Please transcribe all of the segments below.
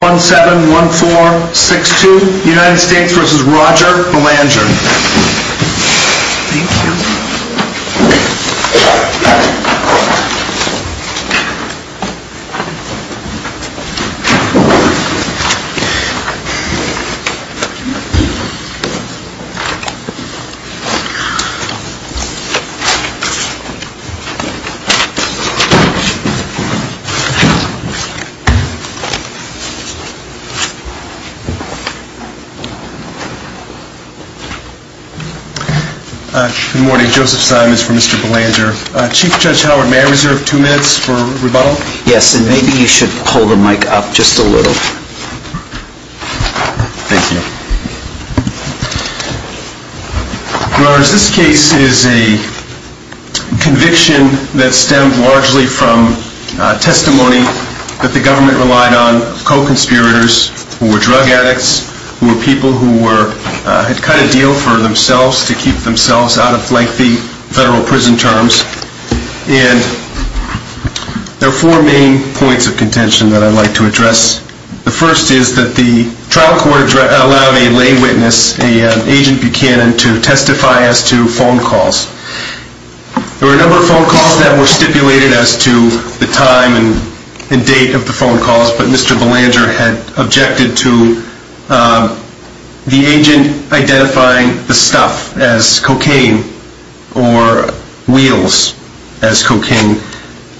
171462 United States v. Roger Belanger Good morning, Joseph Simons for Mr. Belanger. Chief Judge Howard, may I reserve two minutes for rebuttal? Yes, and maybe you should pull the mic up just a little. Thank you. Your Honor, this case is a conviction that stemmed largely from testimony that the government relied on co-conspirators who were drug addicts, who were people who had cut a deal for themselves to keep themselves out of lengthy federal prison terms. And there are four main points of contention that I'd like to address. The first is that the trial court allowed a lay witness, an agent Buchanan, to testify as to phone calls. There were a number of phone calls, but Mr. Belanger had objected to the agent identifying the stuff as cocaine or wheels as cocaine.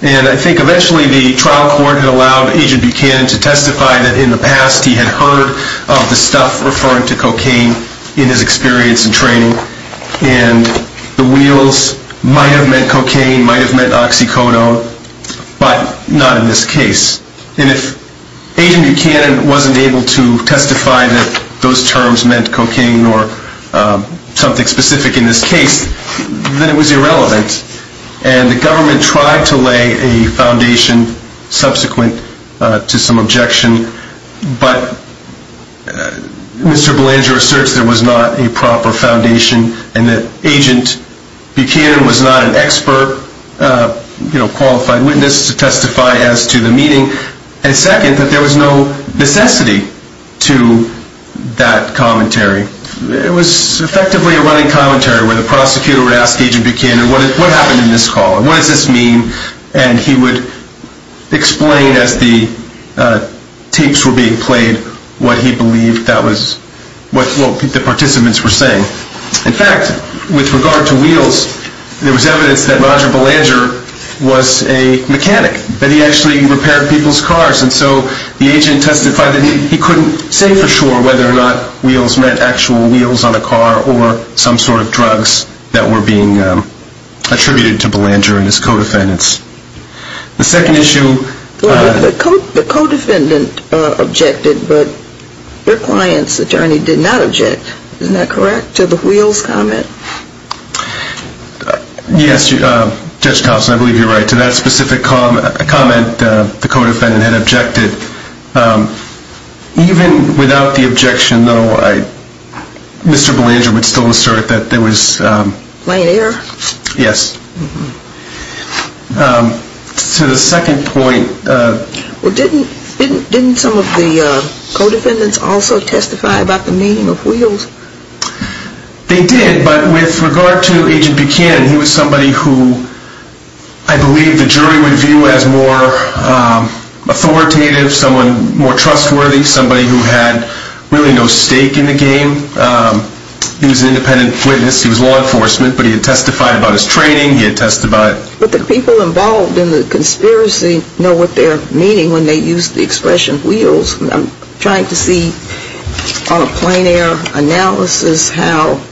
And I think eventually the trial court had allowed Agent Buchanan to testify that in the past he had heard of the stuff referring to cocaine in his experience and training. And the wheels might have meant cocaine, might have meant oxycodone, but not in this case. And if Agent Buchanan wasn't able to testify that those terms meant cocaine or something specific in this case, then it was irrelevant. And the government tried to lay a foundation subsequent to some objection, but Mr. Belanger asserts there was not a proper And second, that there was no necessity to that commentary. It was effectively a running commentary where the prosecutor would ask Agent Buchanan, what happened in this call, what does this mean? And he would explain as the tapes were being played what he believed that was what the participants were saying. In fact, with regard to wheels, there was a mechanic that he actually repaired people's cars. And so the agent testified that he couldn't say for sure whether or not wheels meant actual wheels on a car or some sort of drugs that were being attributed to Belanger and his co-defendants. The second issue Well, the co-defendant objected, but your client's attorney did not object. Isn't that correct, to the wheels comment? Yes, Judge Thompson, I believe you're right. To that specific comment, the co-defendant had objected. Even without the objection, though, Mr. Belanger would still assert that there was Plain air? Yes. To the second point Well, didn't some of the co-defendants also testify about the meaning of wheels? They did, but with regard to Agent Buchanan, he was somebody who I believe the jury would view as more authoritative, someone more trustworthy, somebody who had really no stake in the game. He was an independent witness. He was law enforcement, but he had testified about his training. He had testified But the people involved in the conspiracy know what they're meaning when they use the how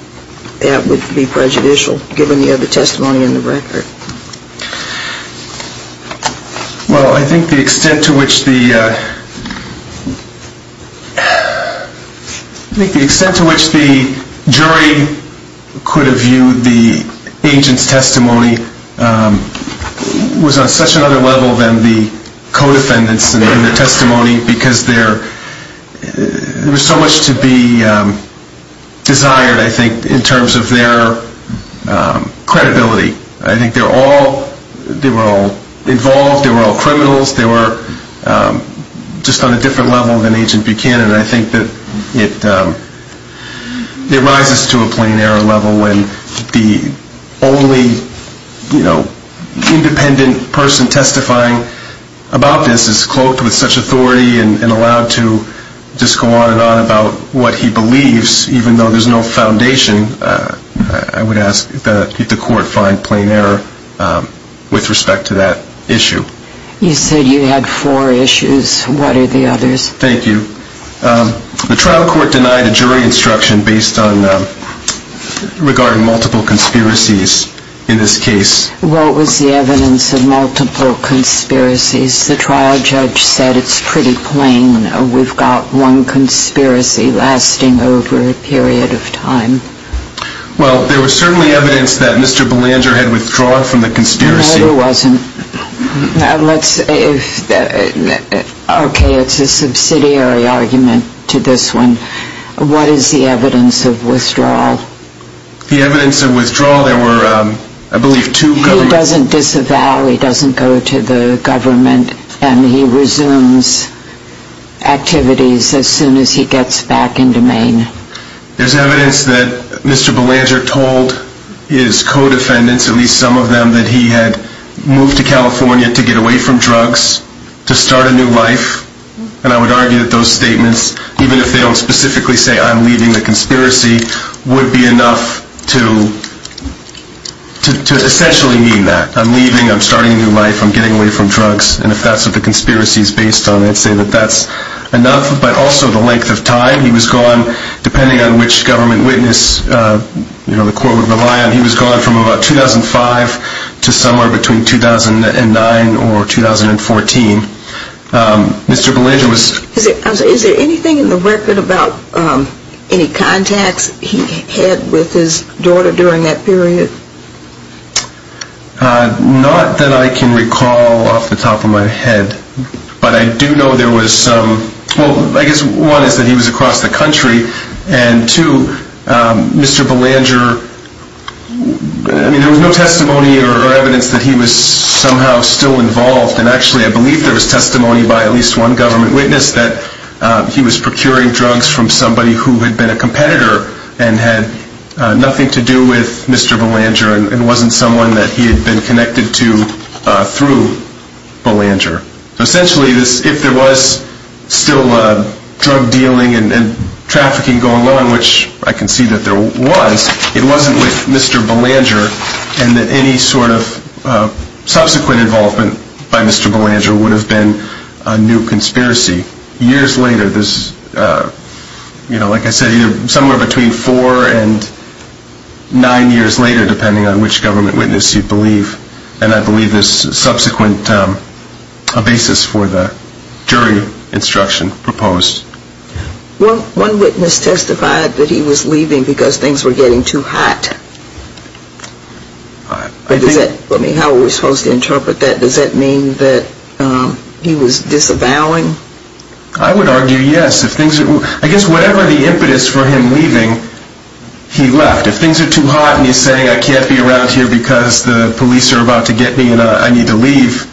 that would be prejudicial, given the other testimony in the record. Well, I think the extent to which the jury could have viewed the agent's testimony was on such another level than the co-defendants in their testimony, because there was so much to be desired, I think, in terms of their credibility. I think they were all involved. They were all criminals. They were just on a different level than Agent Buchanan, and I think that it rises to a plain air level when the only independent person testifying about this is cloaked with such authority and allowed to just go on and on about what he believes, even though there's no foundation, I would ask that the court find plain air with respect to that issue. You said you had four issues. What are the others? Thank you. The trial court denied a jury instruction based on regarding multiple conspiracies in this case. What was the evidence of multiple conspiracies? The trial judge said it's pretty plain. We've got one conspiracy lasting over a period of time. Well, there was certainly evidence that Mr. Belanger had withdrawn from the conspiracy. No, there wasn't. Okay, it's a subsidiary argument to this one. What is the evidence of withdrawal? The evidence of withdrawal, there were, I believe, two governments. He doesn't disavow, he doesn't go to the government, and he resumes activities as soon as he gets back into Maine. There's evidence that Mr. Belanger told his co-defendants, at least some of them, that he had moved to California to get away from drugs, to start a new life, and I would argue that those statements, even if they don't specifically say, I'm leaving the conspiracy, would be enough to essentially mean that. I'm leaving, I'm starting a new life, I'm getting away from drugs, and if that's what the conspiracy is based on, I'd say that that's enough, but also the length of time he was gone, depending on which government witness the court would rely on, he was gone from about 2005 to somewhere between 2009 or 2014. Is there anything in the record about any contacts he had with his daughter during that period? Not that I can recall off the top of my head, but I do know there was some, well, I guess one is that he was across the country, and two, Mr. Belanger, I mean, there was no testimony or evidence that he was somehow still involved, and actually, I believe there was testimony by at least one government witness that he was procuring drugs from somebody who had been a competitor and had nothing to do with Mr. Belanger, and wasn't someone that he had been connected to through Belanger. Essentially, if there was still drug dealing and trafficking going on, which I can see that there was, it wasn't with Mr. Belanger, and that any sort of subsequent involvement by Mr. Belanger would have been a new conspiracy. Years later, like I said, somewhere between four and nine years later, depending on which government witness you believe, and I believe there's a subsequent basis for the jury instruction proposed. Well, one witness testified that he was leaving because things were getting too hot. Does that, I mean, how are we supposed to interpret that? Does that mean that he was disavowing? I would argue yes. I guess whatever the impetus for him leaving, he left. If things are too hot and he's saying I can't be around here because the police are about to get me and I need to leave,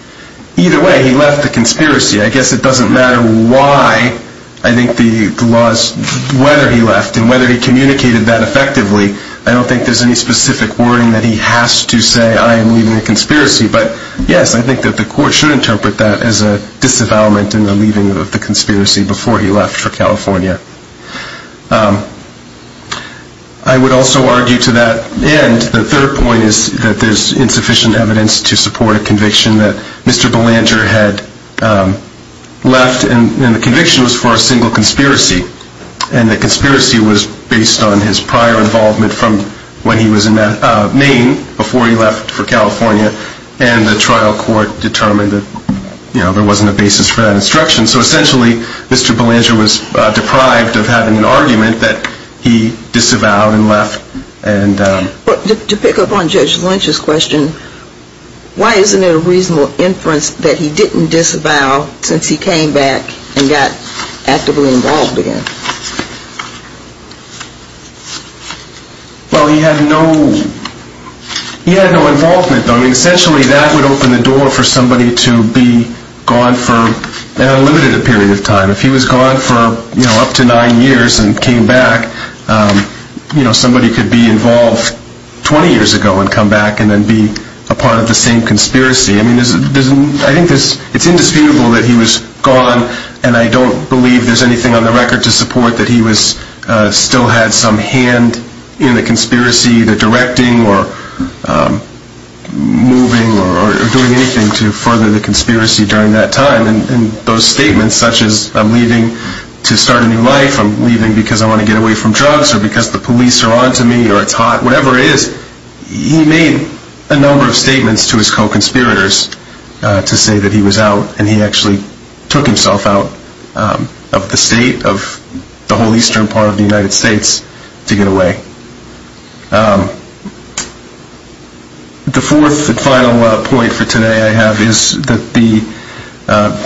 either way, he left the conspiracy. I guess it doesn't matter why, I think the laws, whether he left and whether he communicated that effectively, I don't think there's any specific wording that he has to say I am leaving a conspiracy. But yes, I think that the court should interpret that as a disavowalment in the leaving of the conspiracy before he left for California. I would also argue to that end, the third point is that there's insufficient evidence to support a conviction that Mr. Belanger had left and the conviction was for a single conspiracy and the conspiracy was based on his prior involvement from when he was in Maine before he left for California and the trial court determined that there wasn't a basis for that instruction. So essentially, Mr. Belanger was deprived of having an argument that he disavowed and left. To pick up on Judge Lynch's question, why isn't it a reasonable inference that he didn't disavow since he came back and got actively involved again? Well, he had no involvement. Essentially, that would open the door for somebody to be gone for an unlimited period of time. If he was gone for up to nine years and came back, somebody could be involved 20 years ago and come back and then be a part of the same conspiracy. I think it's indisputable that he was gone and I don't believe there's anything on the record to support that he still had some hand in the conspiracy, the directing or moving or doing anything to further the conspiracy during that time. I think he was gone in those statements such as I'm leaving to start a new life, I'm leaving because I want to get away from drugs or because the police are on to me or it's hot, whatever it is, he made a number of statements to his co-conspirators to say that he was out and he actually took himself out of the state, of the whole eastern part of the United States to get away. The fourth and final point for today I have is that the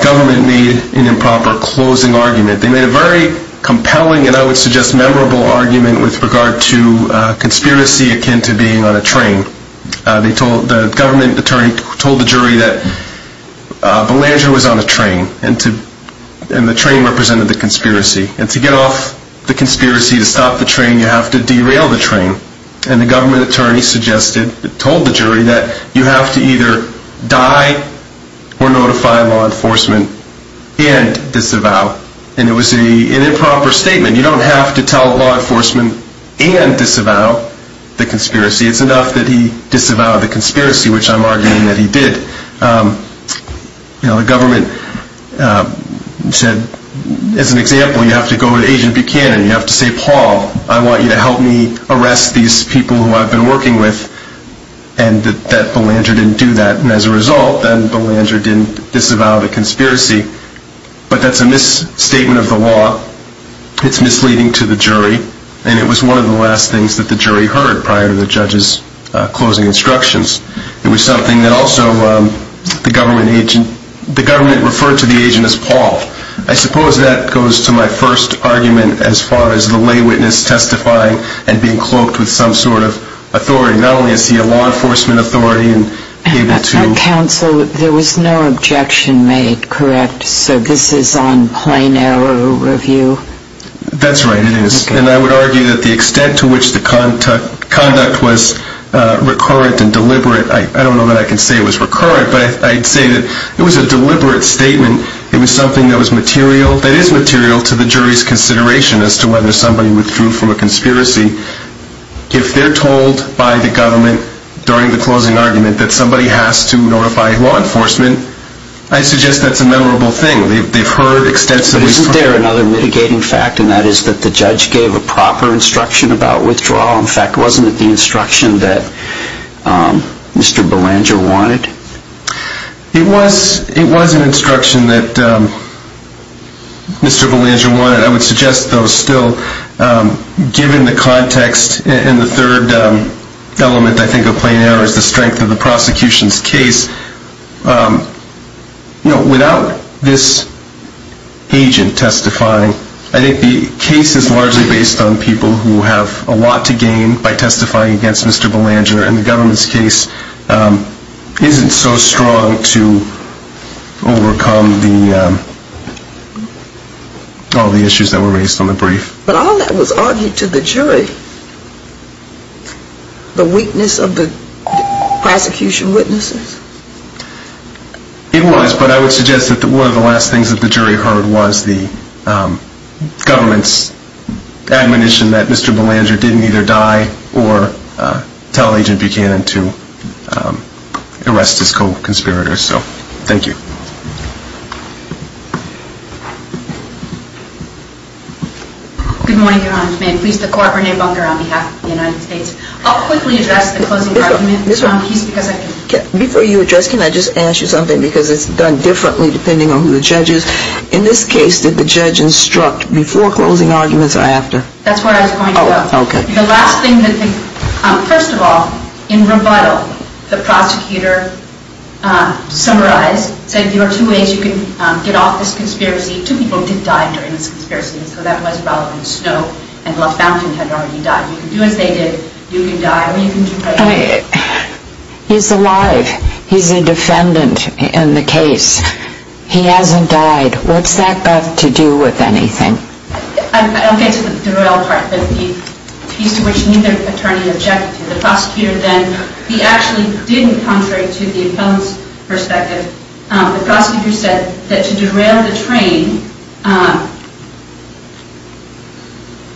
government made an improper closing argument. They made a very compelling and I would suggest memorable argument with regard to conspiracy akin to being on a train. The government attorney told the jury that Belanger was on a train and the train represented the conspiracy. And to get off the conspiracy to stop the train you have to derail the train. And the government attorney suggested, told the jury that you have to either die or notify law enforcement and disavow. And it was an improper statement. You don't have to tell law enforcement and disavow the conspiracy. It's enough that he disavowed the conspiracy which I'm arguing that he did. The government said, as an example, you have to go to Agent Buchanan and you have to say Paul, I want you to help me arrest these people who I've been working with and that Belanger didn't do that. And as a result, then Belanger didn't disavow the conspiracy. But that's a misstatement of the law. It's misleading to the jury. And it was one of the last things that the jury heard prior to the judge's closing instructions. It was something that also the government agent, the government referred to the agent as Paul. I suppose that goes to my first argument as far as the lay witness testifying and being cloaked with some sort of authority. Not only is he a law enforcement authority and able to... Our counsel, there was no objection made, correct? So this is on plain error review? That's right, it is. And I would argue that the extent to which the conduct was recurrent and deliberate, I don't know that I can say it was recurrent, but I'd say that it was a deliberate statement. It was something that is material to the jury's consideration as to whether somebody withdrew from a conspiracy. If they're told by the government during the closing argument that somebody has to notify law enforcement, I suggest that's a memorable thing. They've heard extensively... Isn't there another mitigating fact, and that is that the judge gave a proper instruction about withdrawal? In fact, wasn't it the instruction that Mr. Belanger wanted? It was an instruction that Mr. Belanger wanted. I would suggest, though, still, given the context and the third element, I think, of plain error as far as the strength of the prosecution's case, you know, without this agent testifying, I think the case is largely based on people who have a lot to gain by testifying against Mr. Belanger, and the government's case isn't so strong to overcome all the issues that were raised on the brief. But all that was argued to the jury. The weakness of the prosecution witnesses. It was, but I would suggest that one of the last things that the jury heard was the government's admonition that Mr. Belanger didn't either die or tell Agent Buchanan to arrest his co-conspirators. So, thank you. Good morning, Your Honor. May it please the Court, Renee Bunker on behalf of the United States. I'll quickly address the closing argument. Before you address, can I just ask you something, because it's done differently depending on who the judge is. In this case, did the judge instruct before closing arguments or after? That's where I was going to go. Oh, okay. The last thing that the, first of all, in rebuttal, the prosecutor summarized, said there are two ways you can get off this conspiracy. Two people did die during this conspiracy, so that was probably Snow and LaFountain had already died. You can do as they did. You can die or you can do as they did. He's alive. He's a defendant in the case. He hasn't died. What's that got to do with anything? I'll get to the derail part, but he's to which neither attorney objected to. The prosecutor then, he actually did, contrary to the opponent's perspective, the prosecutor said that to derail the train,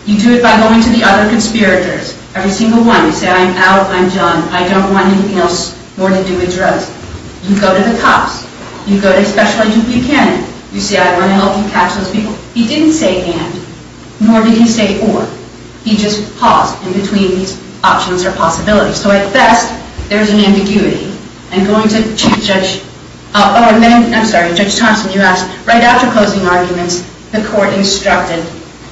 you do it by going to the other conspirators. Every single one. You say, I'm out. I'm done. I don't want anything else more to do with drugs. You go to the cops. You go to Special Agent Buchanan. You say, I want to help you catch those people. He didn't say and, nor did he say or. He just paused in between these options or possibilities. So at best, there's an ambiguity. And going to Chief Judge, oh, I'm sorry, Judge Thompson, you asked, right after closing arguments, the court instructed,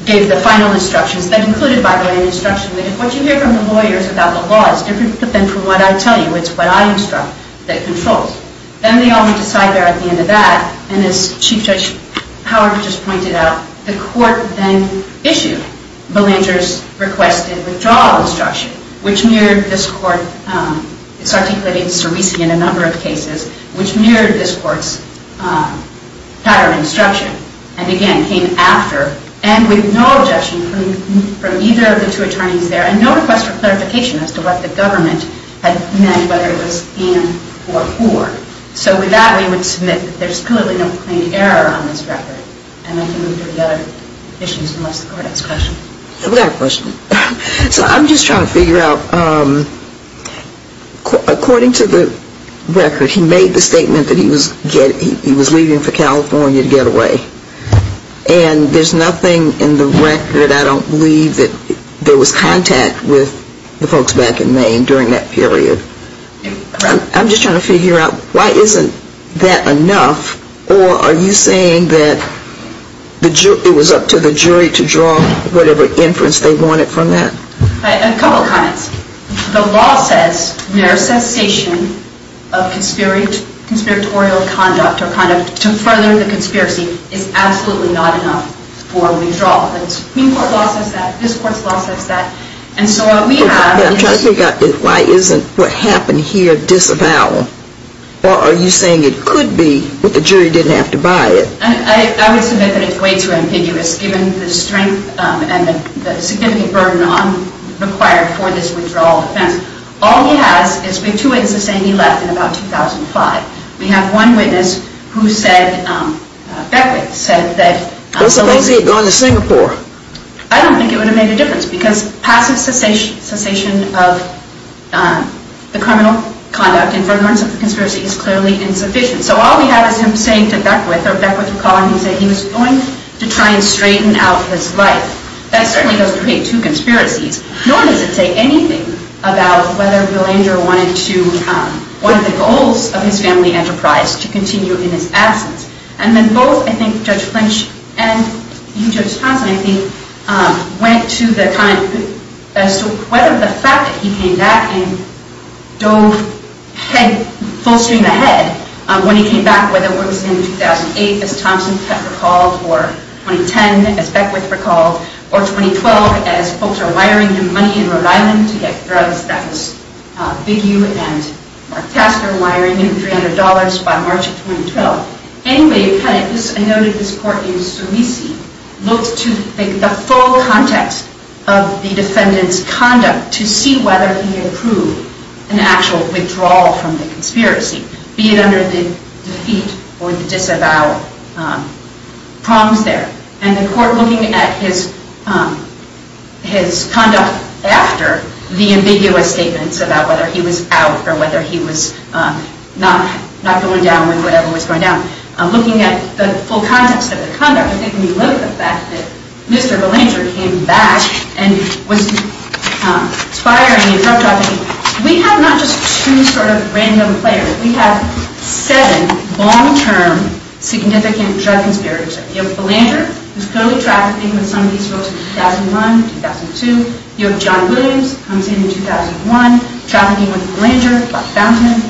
gave the final instructions that included, by the way, an instruction that if what you hear from the lawyers about the law is different than from what I tell you, it's what I instruct that controls. Then they all went to side there at the end of that. And as Chief Judge Howard just pointed out, the court then issued Belanger's request to withdraw the instruction, which mirrored this court's pattern instruction. And again, came after and with no objection from either of the two attorneys there. And no request for clarification as to what the government had meant, whether it was in or for. So with that, we would submit that there's clearly no complaint of error on this record. And I can move to the other issues unless the court has questions. I've got a question. So I'm just trying to figure out, according to the record, he made the statement that he was leaving for California to get away. And there's nothing in the record, I don't believe, that there was contact with the folks back in Maine during that period. I'm just trying to figure out, why isn't that enough? Or are you saying that it was up to the jury to draw whatever inference they wanted from that? A couple of comments. The law says mere cessation of conspiratorial conduct or conduct to further the conspiracy is absolutely not enough for withdrawal. The Supreme Court's law says that. This court's law says that. And so what we have is... I'm trying to figure out, why isn't what happened here disavowal? Or are you saying it could be, but the jury didn't have to buy it? I would submit that it's way too ambiguous, given the strength and the significant burden I'm required for this withdrawal defense. All he has is two witnesses saying he left in about 2005. We have one witness who said, Beckwith said that... Those are things he had done to Singapore. I don't think it would have made a difference, because passive cessation of the criminal conduct and furtherance of the conspiracy is clearly insufficient. So all we have is him saying to Beckwith, or Beckwith recalling he said he was going to try and straighten out his life. That certainly doesn't create two conspiracies. Nor does it say anything about whether Belanger wanted the goals of his family enterprise to continue in his absence. And then both, I think, Judge Flinch and you, Judge Thompson, I think, went to the kind... So whether the fact that he came back and dove full stream ahead, when he came back, whether it was in 2008, as Thompson recalled, or 2010, as Beckwith recalled, or 2012, as folks are wiring him money in Rhode Island to get drugs that was Big U and Mark Tasker wiring him $300 by March of 2012. Anyway, I noted this court in Sulisi looks to the full context of the defendant's conduct to see whether he approved an actual withdrawal from the conspiracy, be it under the defeat or disavow prongs there. And the court looking at his conduct after the ambiguous statements about whether he was out or whether he was not going down with whatever was going down. Looking at the full context of the conduct, I think when you look at the fact that Mr. Belanger came back and was aspiring in drug trafficking, we have not just two sort of random players. We have seven long-term significant drug conspirators. You have Belanger, who's totally trafficking with some of these folks in 2001, 2002. You have John Williams, comes in in 2001, trafficking with Belanger, Bob Fountain,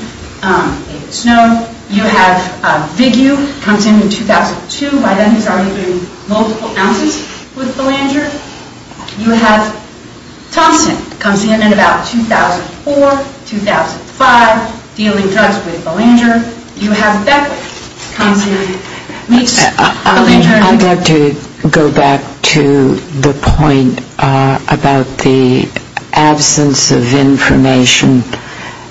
David Snow. You have Big U, comes in in 2002, by then he's already doing multiple ounces with Belanger. You have Thompson, comes in in about 2004, 2005, dealing drugs with Belanger. You have Beckwith, comes in, meets Belanger. I'd like to go back to the point about the absence of information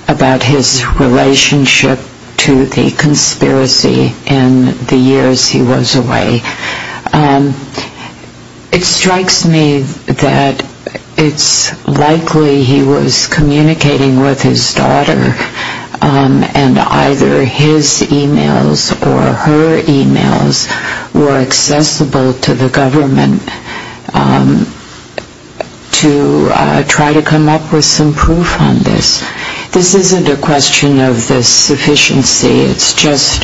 about his relationship to the conspiracy in the years he was away. It strikes me that it's likely he was communicating with his daughter and either his emails or her emails were accessible to the government to try to come up with some proof on this. This isn't a question of the sufficiency. It's just,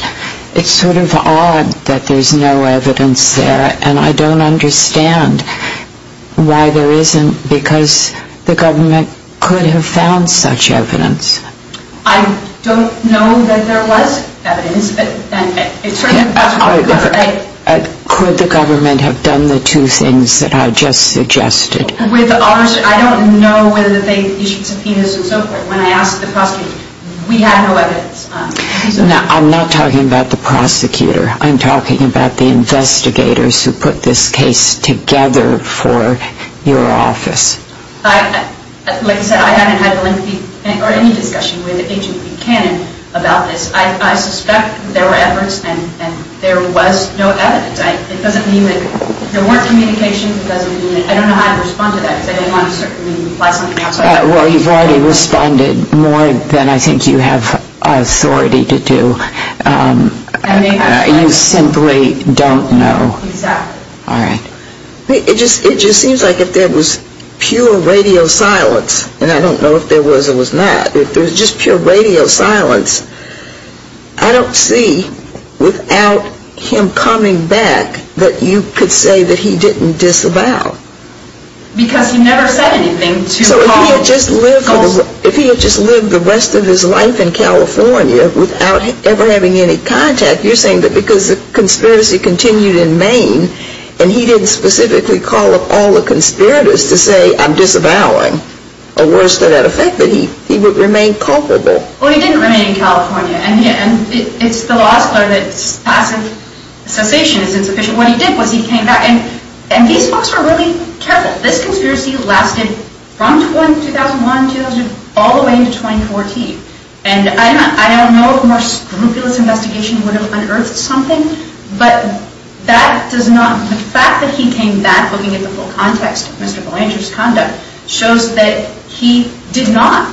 it's sort of odd that there's no evidence there. And I don't understand why there isn't, because the government could have found such evidence. I don't know that there was evidence. Could the government have done the two things that I just suggested? With ours, I don't know whether they issued subpoenas and so forth. When I asked the prosecutor, we had no evidence. Now, I'm not talking about the prosecutor. I'm talking about the investigators who put this case together for your office. Like I said, I haven't had any discussion with Agent Buchanan about this. I suspect there were efforts and there was no evidence. It doesn't mean that there weren't communications. I don't know how to respond to that because I don't want to certainly imply something else. Well, you've already responded more than I think you have authority to do. You simply don't know. Exactly. All right. It just seems like if there was pure radio silence, and I don't know if there was or was not, if there was just pure radio silence, I don't see, without him coming back, that you could say that he didn't disavow. Because he never said anything. So if he had just lived the rest of his life in California without ever having any contact, you're saying that because the conspiracy continued in Maine and he didn't specifically call up all the conspirators to say, I'm disavowing, or worse to that effect, that he would remain culpable. Well, he didn't remain in California. And it's the law that says passive cessation is insufficient. What he did was he came back. And these folks were really careful. This conspiracy lasted from 2001 all the way into 2014. And I don't know if a more scrupulous investigation would have unearthed something, but the fact that he came back looking at the full context of Mr. Belanger's conduct shows that he did not.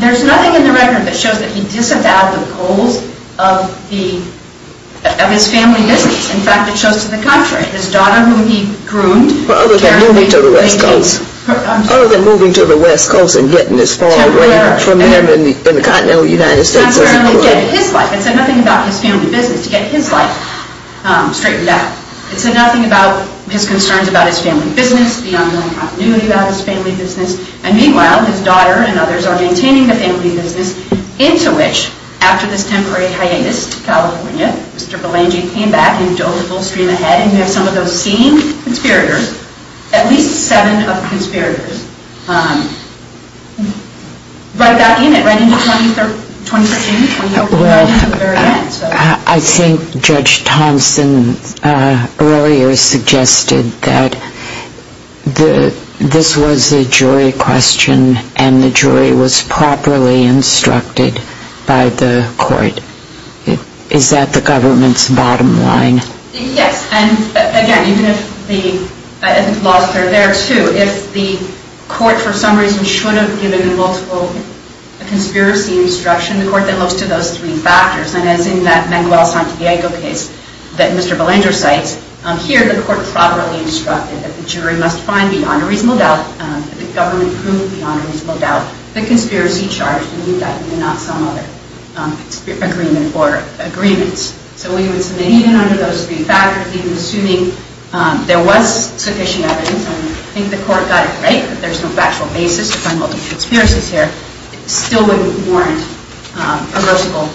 There's nothing in the record that shows that he disavowed the goals of his family business. In fact, it shows to the contrary. Well, other than moving to the West Coast and getting as far away from him in the continental United States as he could. It said nothing about his family business. To get his life straightened out. It said nothing about his concerns about his family business, the ongoing continuity about his family business. And meanwhile, his daughter and others are maintaining the family business, into which, after this temporary hiatus to California, Mr. Belanger came back and dove a full stream ahead. And we have some of those same conspirators. At least seven of the conspirators. Right back in it, right into 2013, 2014, to the very end. I think Judge Thompson earlier suggested that this was a jury question and the jury was properly instructed by the court. Is that the government's bottom line? Yes. And again, even if the laws are there, too, if the court for some reason should have given a multiple conspiracy instruction, the court then looks to those three factors. And as in that Manuel Santiago case that Mr. Belanger cites, here the court properly instructed that the jury must find beyond a reasonable doubt, that the government proved beyond a reasonable doubt, the conspiracy charge, and leave that to not some other agreement or agreements. So we would submit, even under those three factors, even assuming there was sufficient evidence, and I think the court got it right that there's no factual basis to find multiple conspiracies here, it still wouldn't warrant a versatile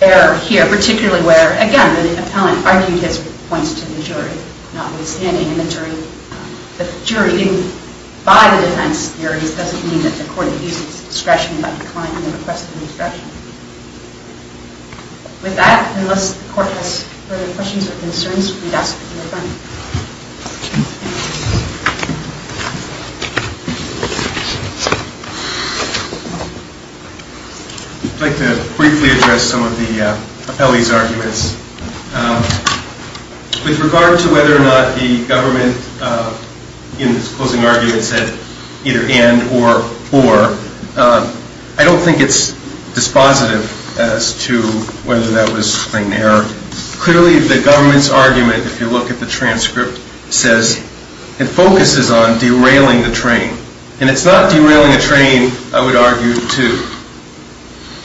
error here, particularly where, again, the appellant argued his points to the jury. Notwithstanding, the jury didn't buy the defense theories, which doesn't mean that the court abuses discretion about the client in the request for discretion. With that, unless the court has further questions or concerns, we'd ask for your time. I'd like to briefly address some of the appellee's arguments. With regard to whether or not the government, in its closing argument, said either and or, or, I don't think it's dispositive as to whether that was an error. Clearly, the government's argument, if you look at the transcript, says it focuses on derailing the train. And it's not derailing the train, I would argue, to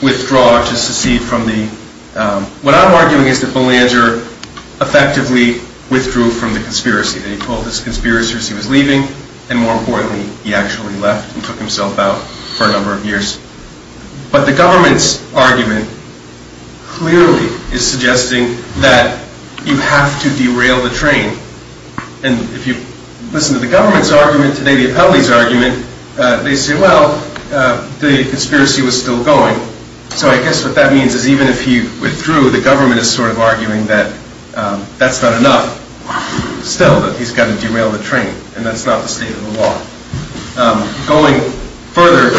withdraw, to secede from the... What I'm arguing is that Belanger effectively withdrew from the conspiracy. That he pulled this conspiracy as he was leaving, and more importantly, he actually left and took himself out for a number of years. But the government's argument clearly is suggesting that you have to derail the train. And if you listen to the government's argument today, the appellee's argument, they say, well, the conspiracy was still going. So I guess what that means is even if he withdrew, the government is sort of arguing that that's not enough. Still, that he's got to derail the train, and that's not the state of the law. Going further,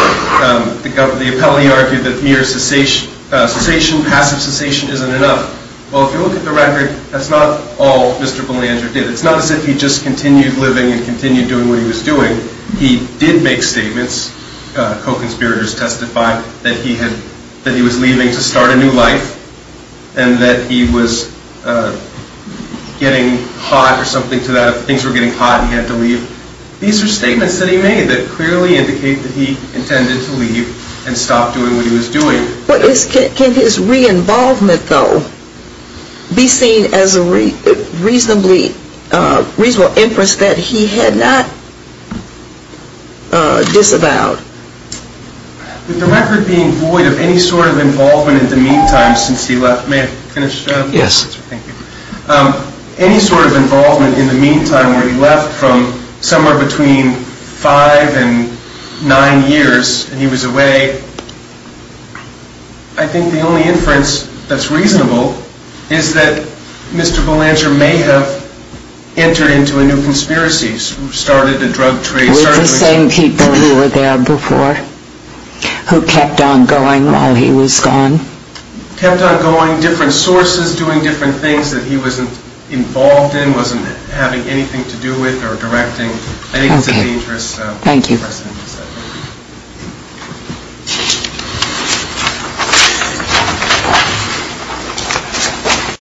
the appellee argued that mere cessation, passive cessation, isn't enough. Well, if you look at the record, that's not all Mr. Belanger did. It's not as if he just continued living and continued doing what he was doing. He did make statements, co-conspirators testified, that he was leaving to start a new life, and that he was getting hot or something to that, things were getting hot and he had to leave. These are statements that he made that clearly indicate that he intended to leave and stop doing what he was doing. Can his re-involvement, though, be seen as a reasonable inference that he had not disavowed? With the record being void of any sort of involvement in the meantime since he left, may I finish? Yes. Thank you. Any sort of involvement in the meantime where he left from somewhere between five and nine years, and he was away, I think the only inference that's reasonable is that Mr. Belanger may have entered into a new conspiracy, started a drug trade. With the same people who were there before, who kept on going while he was gone? Kept on going, different sources, doing different things that he wasn't involved in, wasn't having anything to do with or directing. I think it's a dangerous precedent. Thank you.